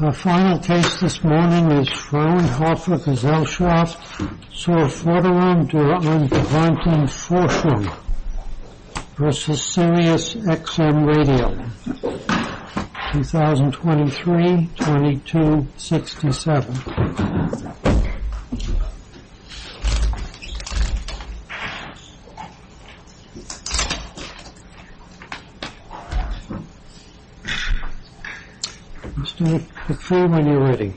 Our final case this morning is Fraunhofer-Gesellschaft Sirus XM Radio 2023-22-67 Good morning,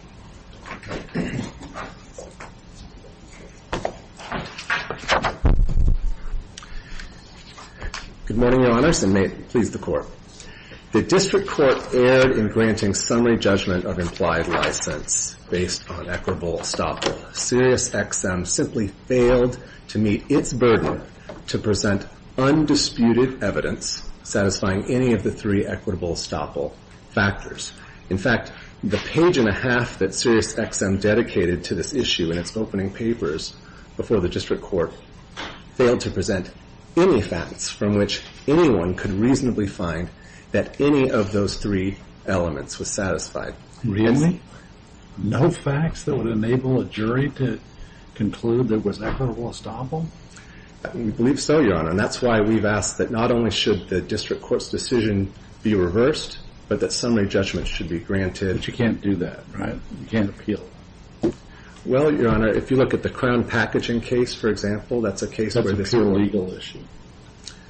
Your Honors, and may it please the Court. The District Court erred in granting summary judgment of implied license based on equitable estoppel. Sirius XM simply failed to meet its burden to present undisputed evidence satisfying any of the three equitable estoppel factors. In fact, the page and a half that Sirius XM dedicated to this issue in its opening papers before the District Court failed to present any facts from which anyone could reasonably find that any of those three elements was satisfied. Really? No facts that would enable a jury to conclude there was equitable estoppel? We believe so, Your Honor, and that's why we've asked that not only should the District Court's decision be reversed, but that summary judgment should be granted. But you can't do that, right? You can't appeal. Well, Your Honor, if you look at the Crown Packaging case, for example, that's a case where this is a legal issue.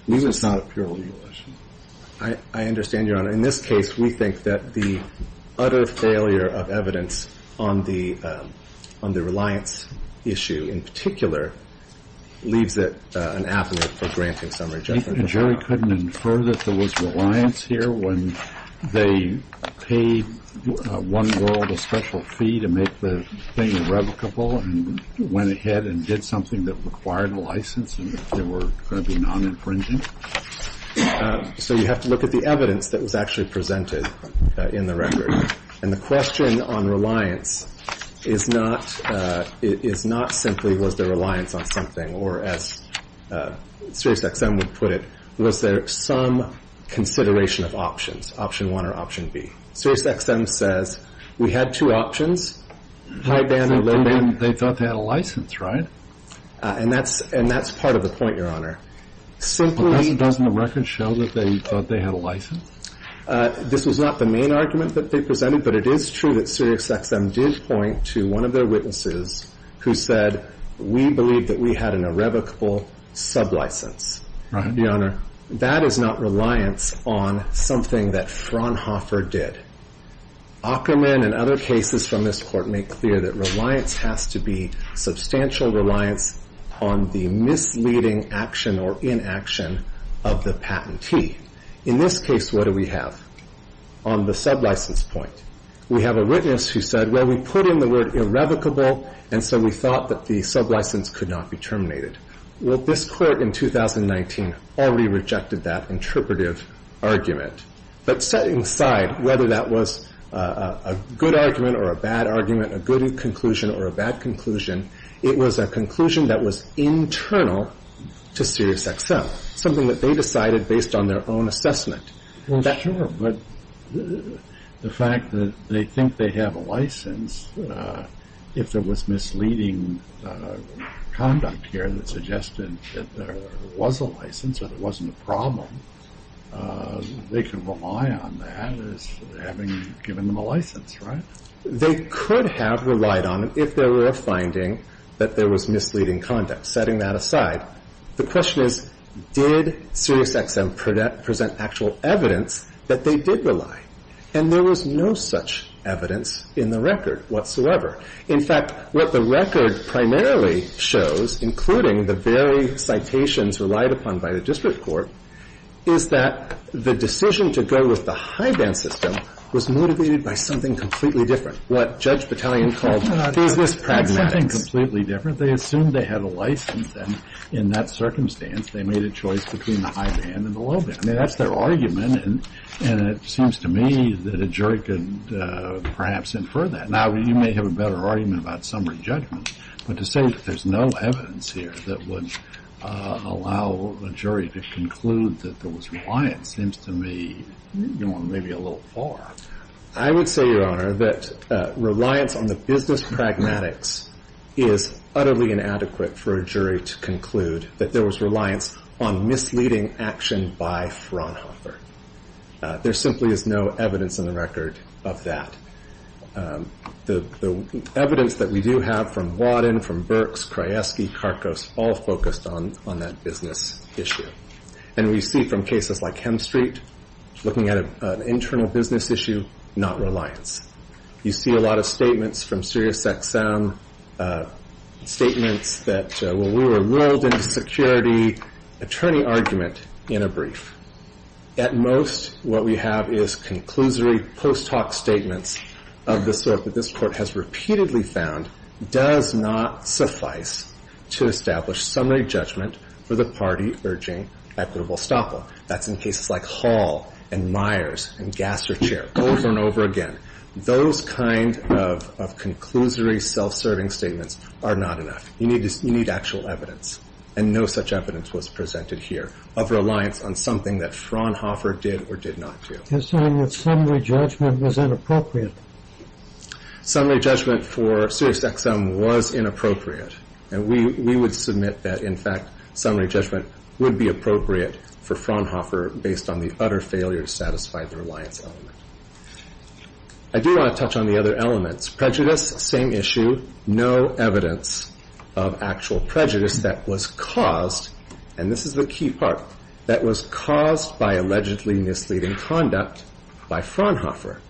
That's a pure legal issue. I understand, Your Honor. In this case, we think that the utter failure of evidence on the reliance issue in particular leaves it an avenue for granting summary judgment. And jury couldn't infer that there was reliance here when they paid one girl the special fee to make the thing irrevocable and went ahead and did something that required a license and they were going to be non-infringing? So you have to look at the evidence that was actually presented in the record. And the question on reliance is not simply was there reliance on something or, as Sirius XM would put it, was there some consideration of options, option one or option B? Sirius XM says we had two options, high ban or low ban. They thought they had a license, right? And that's part of the point, Your Honor. Doesn't the record show that they thought they had a license? This was not the main argument that they presented, but it is true that Sirius XM did point to one of their witnesses who said we believe that we had an irrevocable sublicense. Your Honor, that is not reliance on something that Fraunhofer did. Ackerman and other cases from this court make clear that reliance has to be substantial reliance on the misleading action or inaction of the patentee. In this case, what do we have on the sublicense point? We have a witness who said, well, we put in the word irrevocable and so we thought that the sublicense could not be terminated. Well, this court in 2019 already rejected that interpretive argument, but setting aside whether that was a good argument or a bad argument, a good conclusion or a bad conclusion, it was a conclusion that was internal to Sirius XM, something that they decided based on their own assessment. But the fact that they think they have a license, if there was misleading conduct here that suggested that there was a license or there wasn't a problem, they can rely on that as having given them a license, right? They could have relied on it if there were a finding that there was misleading conduct. Setting that aside, the question is, did Sirius XM present actual evidence that they did rely? And there was no such evidence in the record whatsoever. In fact, what the record primarily shows, including the very citations relied upon by the district court, is that the decision to go with the high band system was motivated by something completely different, what Judge Battalion called business pragmatics. Something completely different. They assumed they had a license and in that circumstance they made a choice between the high band and the low band. I mean, that's their view, that a jury could perhaps infer that. Now, you may have a better argument about summary judgment, but to say that there's no evidence here that would allow a jury to conclude that there was reliance seems to me, you know, maybe a little far. I would say, Your Honor, that reliance on the business pragmatics is utterly inadequate for a jury to conclude that there was reliance on misleading action by Fraunhofer. There simply is no evidence in the record of that. The evidence that we do have from Wadden, from Burks, Krajewski, Karkos, all focused on that business issue. And we see from cases like Hemstreet, looking at an internal business issue, not reliance. You see a lot of statements from Sirius XM, statements that, well, we were enrolled in a security attorney argument in a brief. At most, what we have is conclusory post hoc statements of the sort that this Court has repeatedly found does not suffice to establish summary judgment for the party urging equitable estoppel. That's in cases like Hall and Myers and Gasser Chair, over and over again. Those kind of conclusory self-serving statements are not enough. You need actual evidence. And no such evidence was presented here of reliance on something that Fraunhofer did or did not do. Your Honor, summary judgment was inappropriate. Summary judgment for Sirius XM was inappropriate. And we would submit that, in fact, summary judgment would be appropriate for Fraunhofer based on the utter failure to satisfy the reliance element. I do want to touch on the other elements. Prejudice, same issue. No evidence of actual prejudice that was caused, and this is the key part, that was caused by allegedly misleading conduct by Fraunhofer.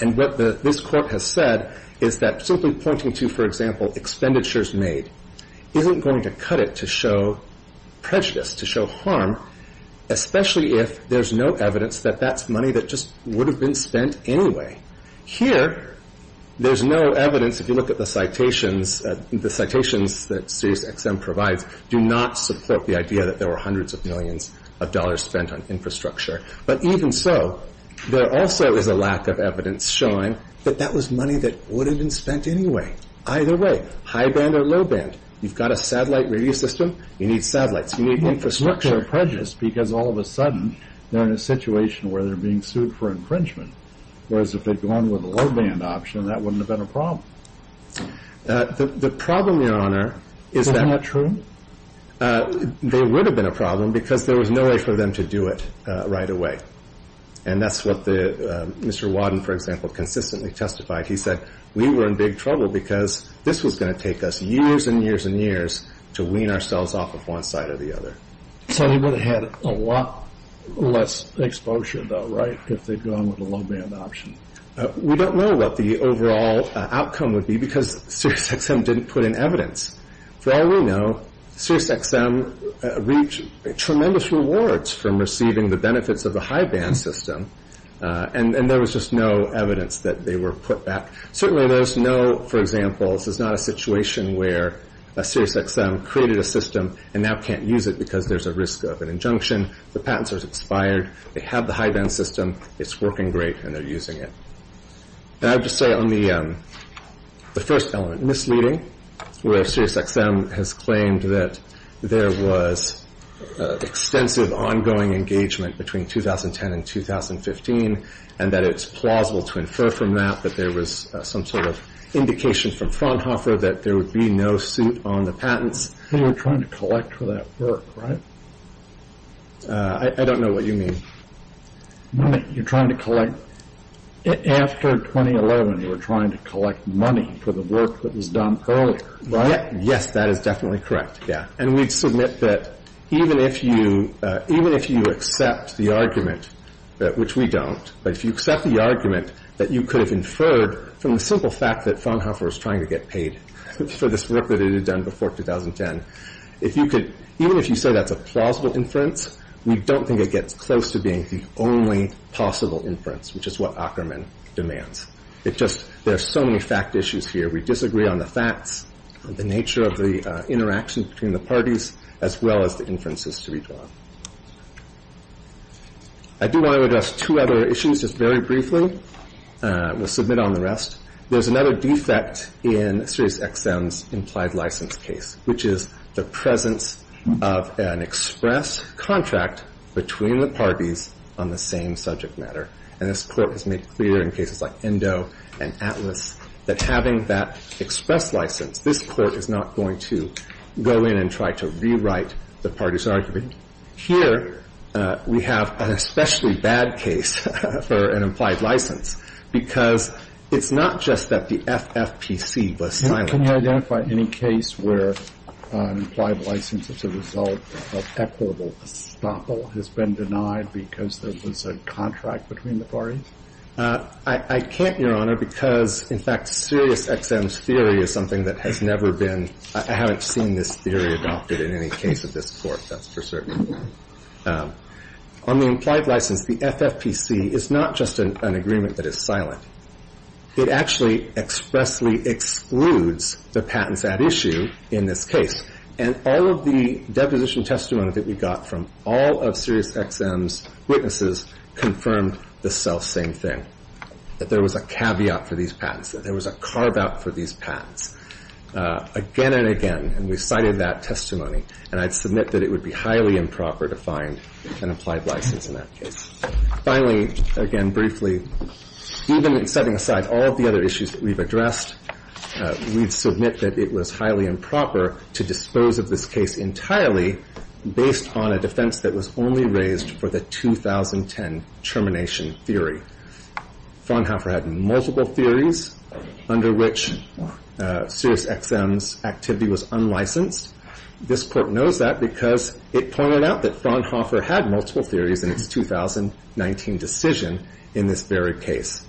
And what this Court has said is that simply pointing to, for example, expenditures made isn't going to cut it to show prejudice, to show harm, especially if there's no evidence that that's money that just would have been spent anyway. Here, there's no evidence. If you look at the citations, the citations that Sirius XM provides do not support the idea that there were hundreds of millions of dollars spent on infrastructure. But even so, there also is a lack of evidence showing that that was money that would have been spent anyway. Either way, high band or low band, you've got a satellite radio system, you need satellites, you need infrastructure. They're prejudiced because all of a sudden they're in a situation where they're being sued for infringement, whereas if they'd gone with a low band option, that wouldn't have been a problem. The problem, Your Honor, is that... Is that not true? They would have been a problem because there was no way for them to do it right away. And that's what Mr. Wadden, for example, consistently testified. He said we were in big trouble because this was going to take us years and years and years to wean ourselves off of one side or the other. So they would have had a lot less exposure though, right, if they'd gone with a low band option? We don't know what the overall outcome would be because Sirius XM didn't put in evidence. For all we know, Sirius XM reached tremendous rewards from receiving the benefits of the high band system, and there was just no evidence that they were put back. Certainly there's no, for example, this is not a situation where Sirius XM created a system and now can't use it because there's a risk of an injunction. The patent's expired. They have the high band system. It's working great, and they're using it. I have to say on the first element, misleading, where Sirius XM has claimed that there was extensive ongoing engagement between 2010 and 2015 and that it's plausible to infer from that that there was some sort of indication from patents. You were trying to collect for that work, right? I don't know what you mean. You're trying to collect, after 2011 you were trying to collect money for the work that was done earlier, right? Yes, that is definitely correct. And we'd submit that even if you accept the argument, which we don't, but if you accept the argument that you could have inferred from the simple fact that even if you say that's a plausible inference, we don't think it gets close to being the only possible inference, which is what Ackermann demands. There are so many fact issues here. We disagree on the facts, the nature of the interaction between the parties, as well as the inferences to be drawn. I do want to address two other issues just very briefly. We'll submit on the rest. There's another defect in SiriusXM's implied license case, which is the presence of an express contract between the parties on the same subject matter. And this Court has made clear in cases like Endo and Atlas that having that express license, this Court is not going to go in and try to rewrite the parties' argument. Here, we have an especially bad case for an implied license, because it's not just that the FFPC was silent. Can you identify any case where an implied license as a result of equitable estoppel has been denied because there was a contract between the parties? I can't, Your Honor, because, in fact, SiriusXM's theory is something that has never been, I haven't seen this theory adopted in any case of this Court, that's for certain. On the implied license, the FFPC is not just an agreement that is silent. It actually expressly excludes the patents at issue in this case. And all of the deposition testimony that we got from all of SiriusXM's witnesses confirmed the selfsame thing, that there was a caveat for these patents, that there was a carve-out for these patents, again and again, and we cited that testimony. And I'd submit that it would be highly improper to find an implied license in that case. Finally, again, briefly, even in setting aside all of the other issues that we've addressed, we'd submit that it was highly improper to dispose of this case entirely based on a defense that was only raised for the 2010 termination theory. Fraunhofer had multiple theories under which SiriusXM's activity was unlicensed. This Court knows that because it pointed out that Fraunhofer had multiple theories in its 2019 decision in this very case.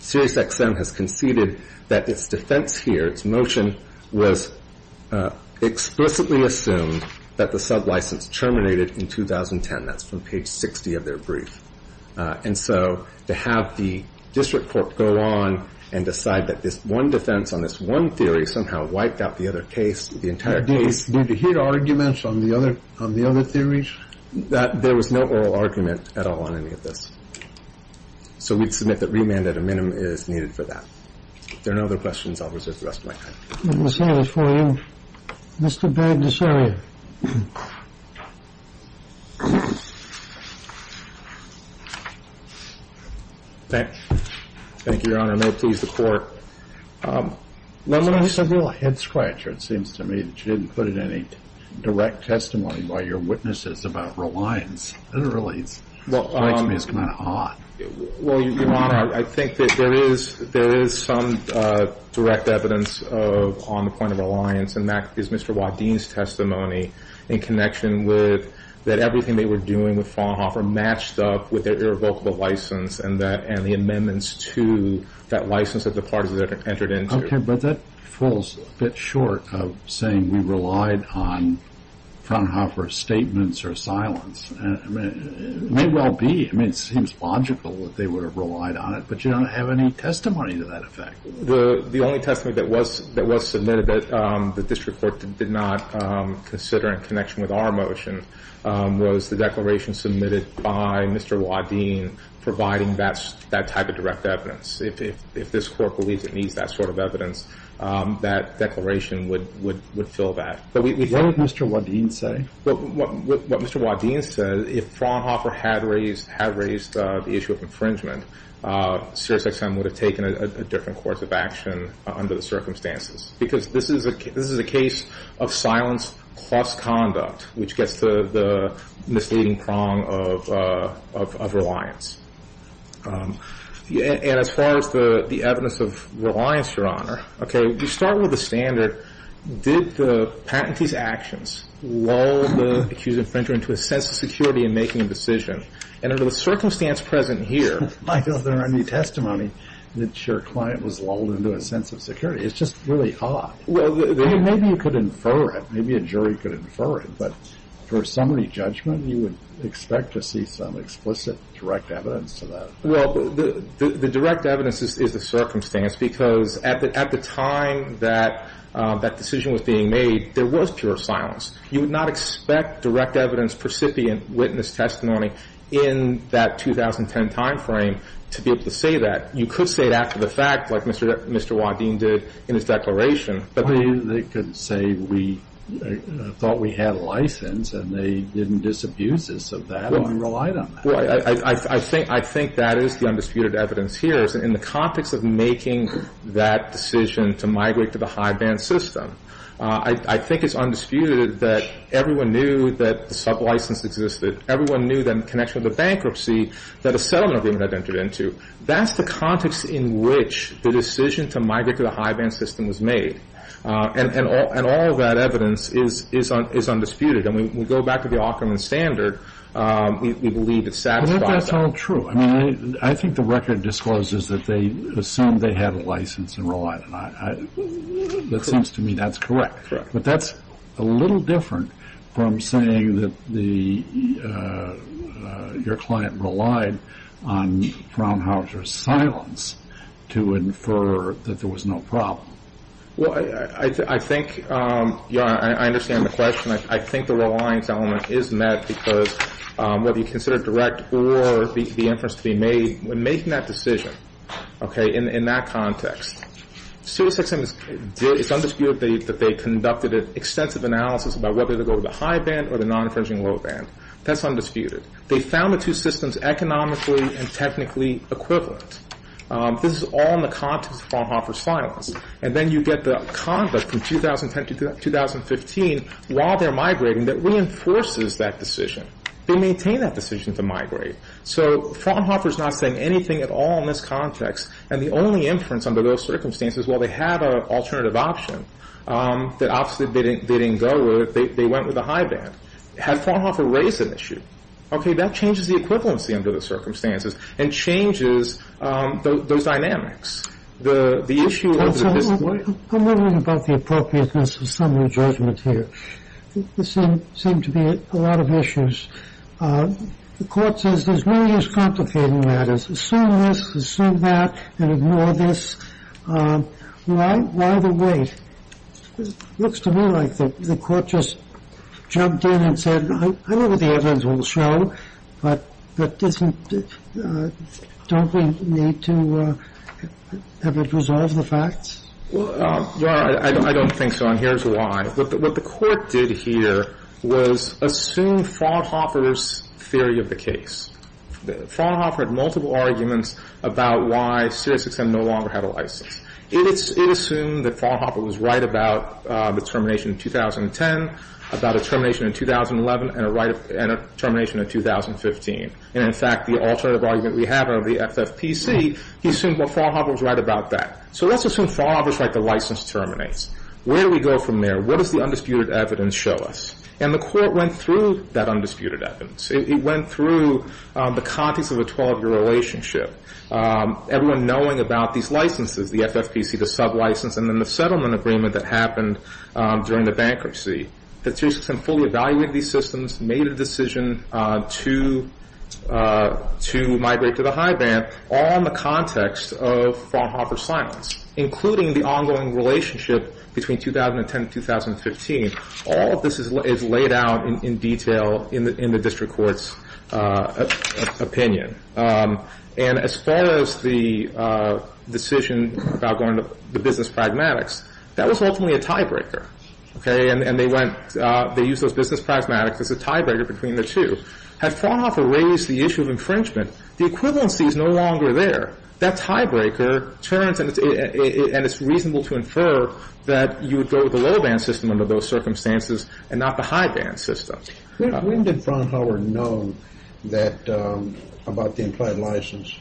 SiriusXM has conceded that its defense here, its motion, was explicitly assumed that the sub-license terminated in 2010. That's from page 60 of their brief. And so to have the district court go on and decide that this one defense on this one theory somehow wiped out the other case, the entire case... Did it hit arguments on the other theories? There was no oral argument at all on any of this. So we'd submit that remand at a minimum is needed for that. If there are no other questions, I'll reserve the rest of my time. Let me see this for you. Mr. Baird, this area. Thank you, Your Honor. No tease, the Court. It's a real head-scratcher, it seems to me, that you didn't put in any direct testimony by your witnesses about reliance. Literally, it's... Well, Your Honor, I think that there is some direct evidence on the point of reliance, and that is Mr. Waddeen's testimony in connection with that everything they were doing with Fraunhofer matched up with their irrevocable license and the amendments to that license that the parties entered into. Okay, but that falls a bit short of saying we relied on Fraunhofer's statements or silence. It may well be. I mean, it seems logical that they would have relied on it, but you don't have any testimony to that effect. The only testimony that was submitted that the District Court did not consider in connection with our motion was the declaration submitted by Mr. Waddeen providing that type of direct evidence. If this Court believes it needs that sort of evidence, that declaration would fill that. What did Mr. Waddeen say? What Mr. Waddeen said, if Fraunhofer had raised the issue of infringement, Sirius XM would have taken a different course of action under the circumstances because this is a case of silence plus conduct, which gets to the misleading prong of reliance. And as far as the evidence of reliance, Your Honor, okay, you start with the standard. Did the patentee's actions lull the accused infringer into a sense of security in making a decision? And under the circumstance present here. Michael, is there any testimony that your client was lulled into a sense of security? It's just really odd. Well, maybe you could infer it. Maybe a jury could infer it. But for summary judgment, you would expect to see some explicit direct evidence to that. Well, the direct evidence is the circumstance because at the time that that decision was being made, there was pure silence. You would not expect direct evidence, precipient witness testimony in that 2010 timeframe to be able to say that. You could say that for the fact, like Mr. Waddeen did in his declaration. But they could say we thought we had a license and they didn't disabuse us of that and relied on that. Well, I think that is the undisputed evidence here. In the context of making that decision to migrate to the high-band system, I think it's undisputed that everyone knew that the sub-license existed. Everyone knew the connection with the bankruptcy that a settlement agreement had entered into. That's the context in which the decision to migrate to the high-band system was made. And all of that evidence is undisputed. And we go back to the Aukerman standard. We believe it satisfies that. I think that's all true. I mean, I think the record discloses that they assumed they had a license and relied on that. It seems to me that's correct. But that's a little different from saying that your client relied on Fraunhauser's silence to infer that there was no problem. Well, I think I understand the question. I think the reliance element is met because whether you consider it direct or the inference to be made, when making that decision, okay, in that context, it's undisputed that they conducted an extensive analysis about whether to go with the high-band or the non-infringing low-band. That's undisputed. They found the two systems economically and technically equivalent. This is all in the context of Fraunhauser's silence. And then you get the conduct from 2010 to 2015, while they're migrating, that reinforces that decision. They maintain that decision to migrate. So Fraunhauser's not saying anything at all in this context. And the only inference under those circumstances, while they had an alternative option that obviously they didn't go with, they went with the high-band. Had Fraunhauser raised an issue, okay, that changes the equivalency under the circumstances and changes those dynamics. The issue of the display. I'm wondering about the appropriateness of summary judgment here. I mean, this seems to be a lot of issues. The Court says there's no use complicating matters. Assume this, assume that, and ignore this. Why the wait? It looks to me like the Court just jumped in and said, I know what the evidence will show, but don't we need to have it resolve the facts? I don't think so, and here's why. What the Court did here was assume Fraunhauser's theory of the case. Fraunhauser had multiple arguments about why Series 6M no longer had a license. It assumed that Fraunhauser was right about the termination in 2010, about a termination in 2011, and a termination in 2015. And, in fact, the alternative argument we have over the FFPC, he assumed that Fraunhauser was right about that. So let's assume Fraunhauser's right the license terminates. Where do we go from there? What does the undisputed evidence show us? And the Court went through that undisputed evidence. It went through the context of a 12-year relationship, everyone knowing about these licenses, the FFPC, the sublicense, and then the settlement agreement that happened during the bankruptcy. The Series 6M fully evaluated these systems, made a decision to migrate to the high band, all in the context of Fraunhauser's silence, including the ongoing relationship between 2010 and 2015. All of this is laid out in detail in the district court's opinion. And as far as the decision about going to the business pragmatics, that was ultimately a tiebreaker. And they went, they used those business pragmatics as a tiebreaker between the two. Had Fraunhauser raised the issue of infringement, the equivalency is no longer there. That tiebreaker turns, and it's reasonable to infer, that you would go with the low band system under those circumstances and not the high band system. When did Fraunhauser know about the implied license?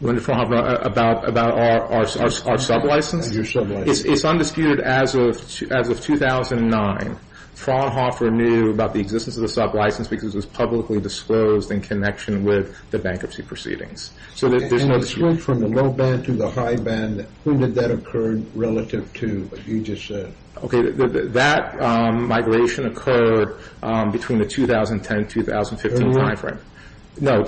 When did Fraunhauser know about our sublicense? Your sublicense. It's undisputed as of 2009. Fraunhauser knew about the existence of the sublicense because it was publicly disclosed in connection with the bankruptcy proceedings. So there's no dispute. From the low band to the high band, when did that occur relative to what you just said? Okay. That migration occurred between the 2010 and 2015 time frame. No.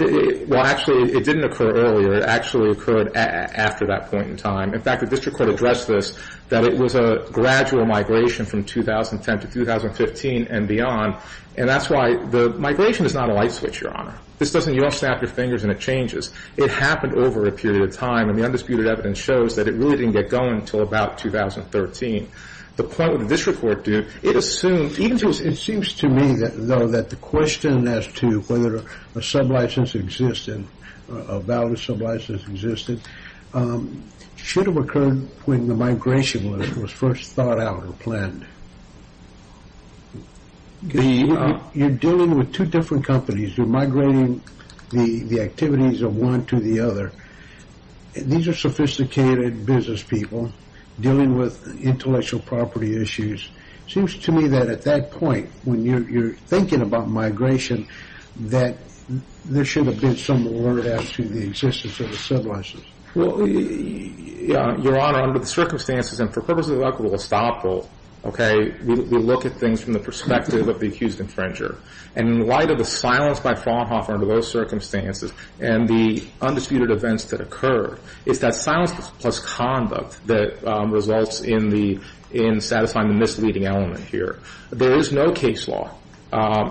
Well, actually, it didn't occur earlier. It actually occurred after that point in time. In fact, the district court addressed this, that it was a gradual migration from 2010 to 2015 and beyond. And that's why the migration is not a light switch, Your Honor. This doesn't, you don't snap your fingers and it changes. It happened over a period of time, and the undisputed evidence shows that it really didn't get going until about 2013. The point that the district court did, it assumed, it seems to me, though, that the question as to whether a sublicense existed, a valid sublicense existed, should have occurred when the migration was first thought out or planned. You're dealing with two different companies. You're migrating the activities of one to the other. These are sophisticated business people dealing with intellectual property issues. It seems to me that at that point, when you're thinking about migration, that there should have been some alert as to the existence of a sublicense. Well, Your Honor, under the circumstances, and for purposes of equitable estoppel, okay, we look at things from the perspective of the accused infringer. And in light of the silence by Fraunhofer under those circumstances and the undisputed events that occurred, it's that silence plus conduct that results in satisfying the misleading element here. There is no case law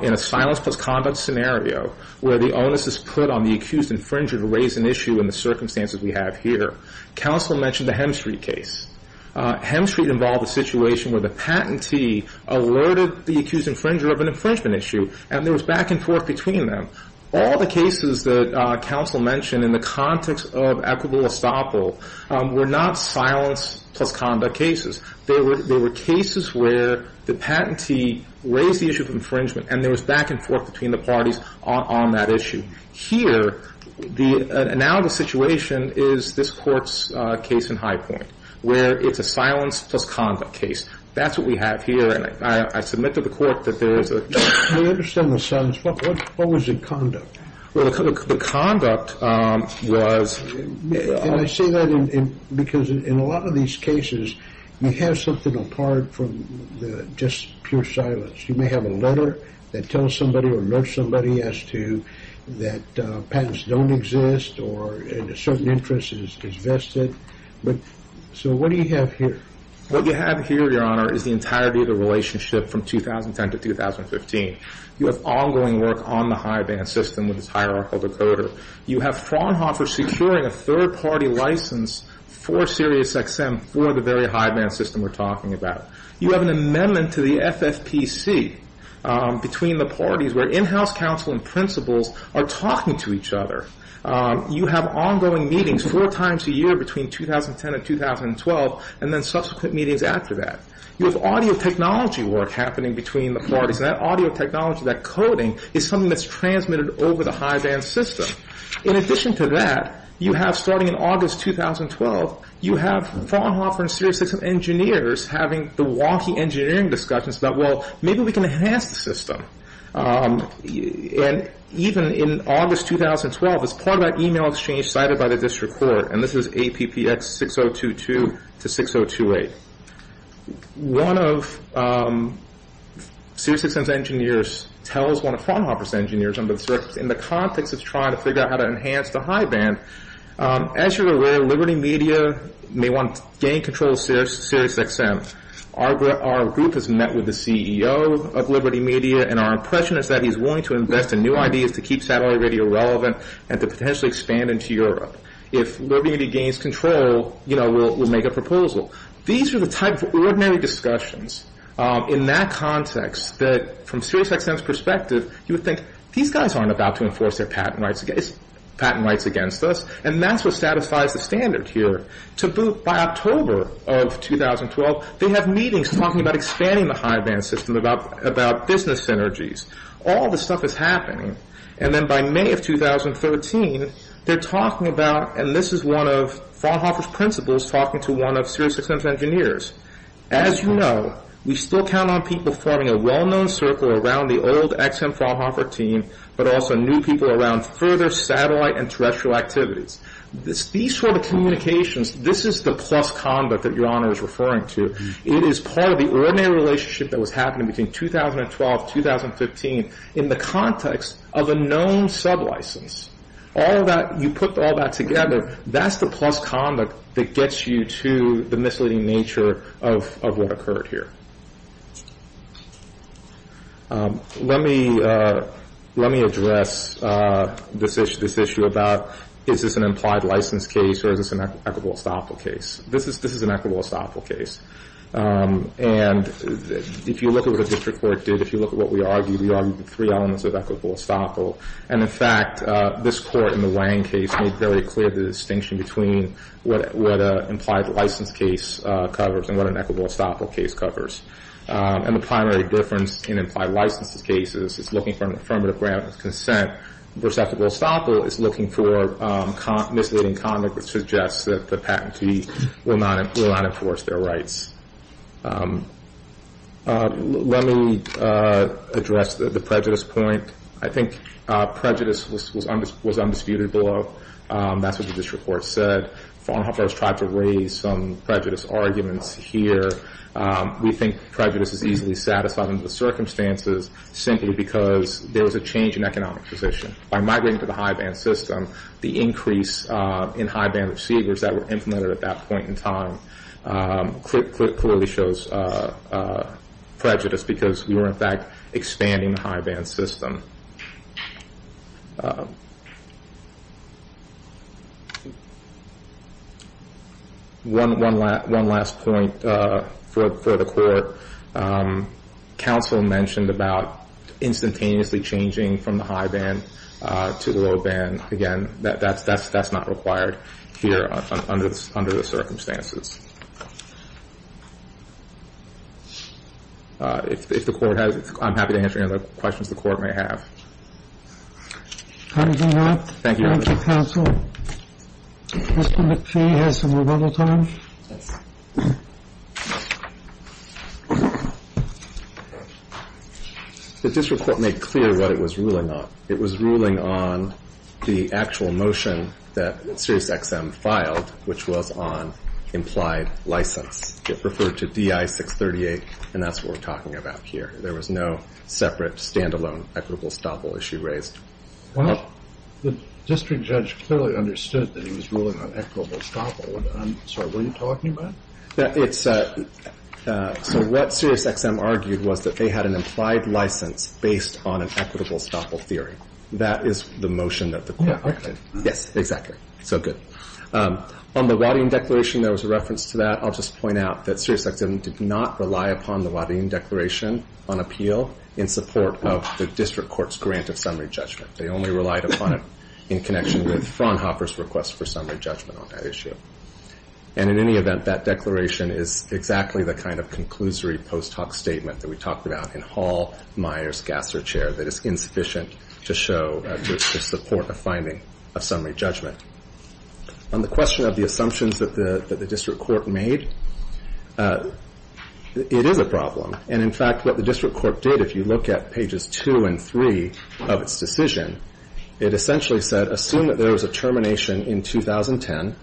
in a silence plus conduct scenario where the onus is put on the accused infringer to raise an issue in the circumstances we have here. Counsel mentioned the Hemstreet case. Hemstreet involved a situation where the patentee alerted the accused infringer of an infringement issue, and there was back and forth between them. All the cases that counsel mentioned in the context of equitable estoppel were not silence plus conduct cases. They were cases where the patentee raised the issue of infringement, and there was back and forth between the parties on that issue. Here, now the situation is this court's case in High Point where it's a silence plus conduct case. That's what we have here, and I submitted to the court that there is a... We understand the silence. What was the conduct? Well, the conduct was... And I say that because in a lot of these cases, you have something apart from just pure silence. You may have a letter that tells somebody or murders somebody as to that patents don't exist or a certain interest is vested. So what do you have here? What you have here, Your Honor, is the entirety of the relationship from 2010 to 2015. You have ongoing work on the high-band system with this hierarchical decoder. You have Fraunhofer securing a third-party license for SiriusXM for the very high-band system we're talking about. You have an amendment to the FFPC between the parties where in-house counsel and principals are talking to each other. You have ongoing meetings four times a year between 2010 and 2012 and then subsequent meetings after that. You have audio technology work happening between the parties, and that audio technology, that coding, is something that's transmitted over the high-band system. In addition to that, you have, starting in August 2012, you have Fraunhofer and SiriusXM engineers having the wonky engineering discussions about, well, maybe we can enhance the system. And even in August 2012, as part of that email exchange cited by the district court, and this is APPX 6022 to 6028, one of SiriusXM's engineers tells one of Fraunhofer's engineers in the context of trying to figure out how to enhance the high-band, as you're aware, Liberty Media may want to gain control of SiriusXM. Our group has met with the CEO of Liberty Media, and our impression is that he's willing to invest in new ideas to keep satellite radio relevant and to potentially expand into Europe. If Liberty Media gains control, we'll make a proposal. These are the type of ordinary discussions in that context that, from SiriusXM's perspective, you would think, these guys aren't about to enforce their patent rights against us. And that's what satisfies the standard here. By October of 2012, they have meetings talking about expanding the high-band system, about business synergies. All this stuff is happening. And then by May of 2013, they're talking about, and this is one of Fraunhofer's principals talking to one of SiriusXM's engineers. As you know, we still count on people forming a well-known circle around the old XM Fraunhofer team, but also new people around further satellite and terrestrial activities. These sort of communications, this is the plus conduct that Your Honor is referring to. It is part of the ordinary relationship that was happening between 2012 and 2015 in the context of a known sub-license. You put all that together, that's the plus conduct that gets you to the misleading nature of what occurred here. Let me address this issue about is this an implied license case or is this an equitable estoppel case? This is an equitable estoppel case. And if you look at what the district court did, if you look at what we argued, we argued three elements of equitable estoppel. And in fact, this court in the Wang case made very clear the distinction between what an implied license case covers and what an equitable estoppel case covers. And the primary difference in implied license cases is looking for an affirmative grant of consent. Equitable estoppel is looking for misleading conduct that suggests that the patentee will not enforce their rights. Let me address the prejudice point. I think prejudice was undisputed below. That's what the district court said. Fraunhofer has tried to raise some prejudice arguments here. We think prejudice is easily satisfied under the circumstances simply because there was a change in economic position. By migrating to the high-band system, the increase in high-band receivers that were implemented at that point in time clearly shows prejudice because we were, in fact, expanding the high-band system. One last point for the court. Counsel mentioned about instantaneously changing from the high-band to the low-band. Again, that's not required here under the circumstances. If the court has... I'm happy to answer any other questions the court may have. Thank you, Your Honor. Thank you, counsel. Mr. McPhee has some rebuttal time. Yes. The district court made clear what it was ruling on. It was ruling on the actual motion that SiriusXM filed, which was on implied license. It referred to DI-638, and that's what we're talking about here. There was no separate, stand-alone equitable estoppel issue raised. Well, the district judge clearly understood that he was ruling on equitable estoppel. I'm sorry, what are you talking about? It's... So what SiriusXM argued was that they had an implied license based on an equitable estoppel theory. That is the motion that the court directed. Yes, exactly. So good. On the Waddington Declaration, there was a reference to that. I'll just point out that SiriusXM did not rely upon the Waddington Declaration on appeal in support of the district court's grant of summary judgment. They only relied upon it in connection with Fraunhofer's request for summary judgment on that issue. And in any event, that declaration is exactly the kind of conclusory post-hoc statement that we talked about in Hall, Myers, Gasser, Chair, that is insufficient to show the support of finding a summary judgment. On the question of the assumptions that the district court made, it is a problem. And in fact, what the district court did, if you look at pages 2 and 3 of its decision, it essentially said, assume that there was a termination in 2010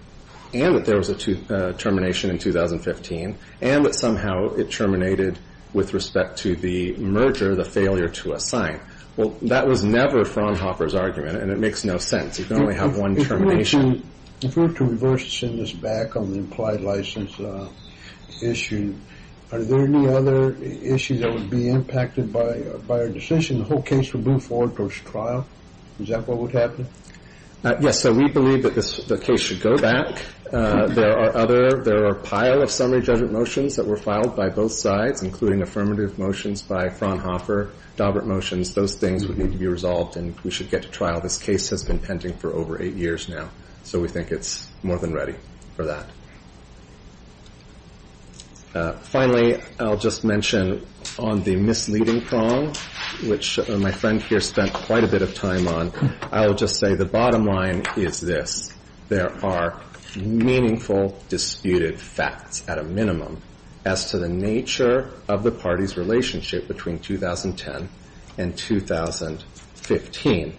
and that there was a termination in 2015 and that somehow it terminated with respect to the merger, the failure to assign. Well, that was never Fraunhofer's argument, and it makes no sense. You can only have one termination. If we were to reverse this back on the implied license issue, are there any other issues that would be impacted by our decision the whole case would move forward towards trial? Is that what would happen? Yes, so we believe that the case should go back. There are a pile of summary judgment motions that were filed by both sides, including affirmative motions by Fraunhofer, Dobbert motions, those things would need to be resolved and we should get to trial. This case has been pending for over eight years now, so we think it's more than ready for that. Finally, I'll just mention on the misleading prong, which my friend here spent quite a bit of time on, I will just say the bottom line is this. There are meaningful disputed facts, at a minimum, as to the nature of the party's relationship between 2010 and 2015.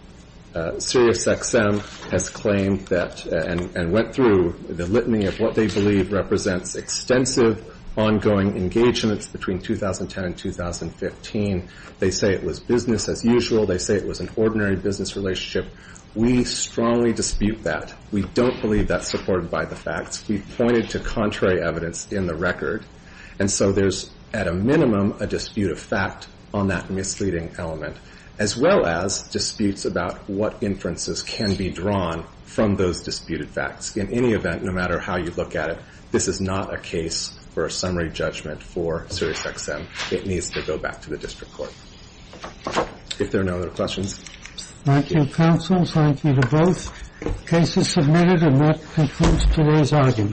SiriusXM has claimed that and went through the litany of what they believe represents extensive ongoing engagements between 2010 and 2015. They say it was business as usual. They say it was an ordinary business relationship. We strongly dispute that. We don't believe that's supported by the facts. We've pointed to contrary evidence in the record. And so there's, at a minimum, a dispute of fact on that misleading element, as well as disputes about what inferences can be drawn from those disputed facts. In any event, no matter how you look at it, this is not a case for a summary judgment for SiriusXM. It needs to go back to the district court. If there are no other questions. Thank you, counsel. Thank you to both cases submitted. And that concludes today's argument.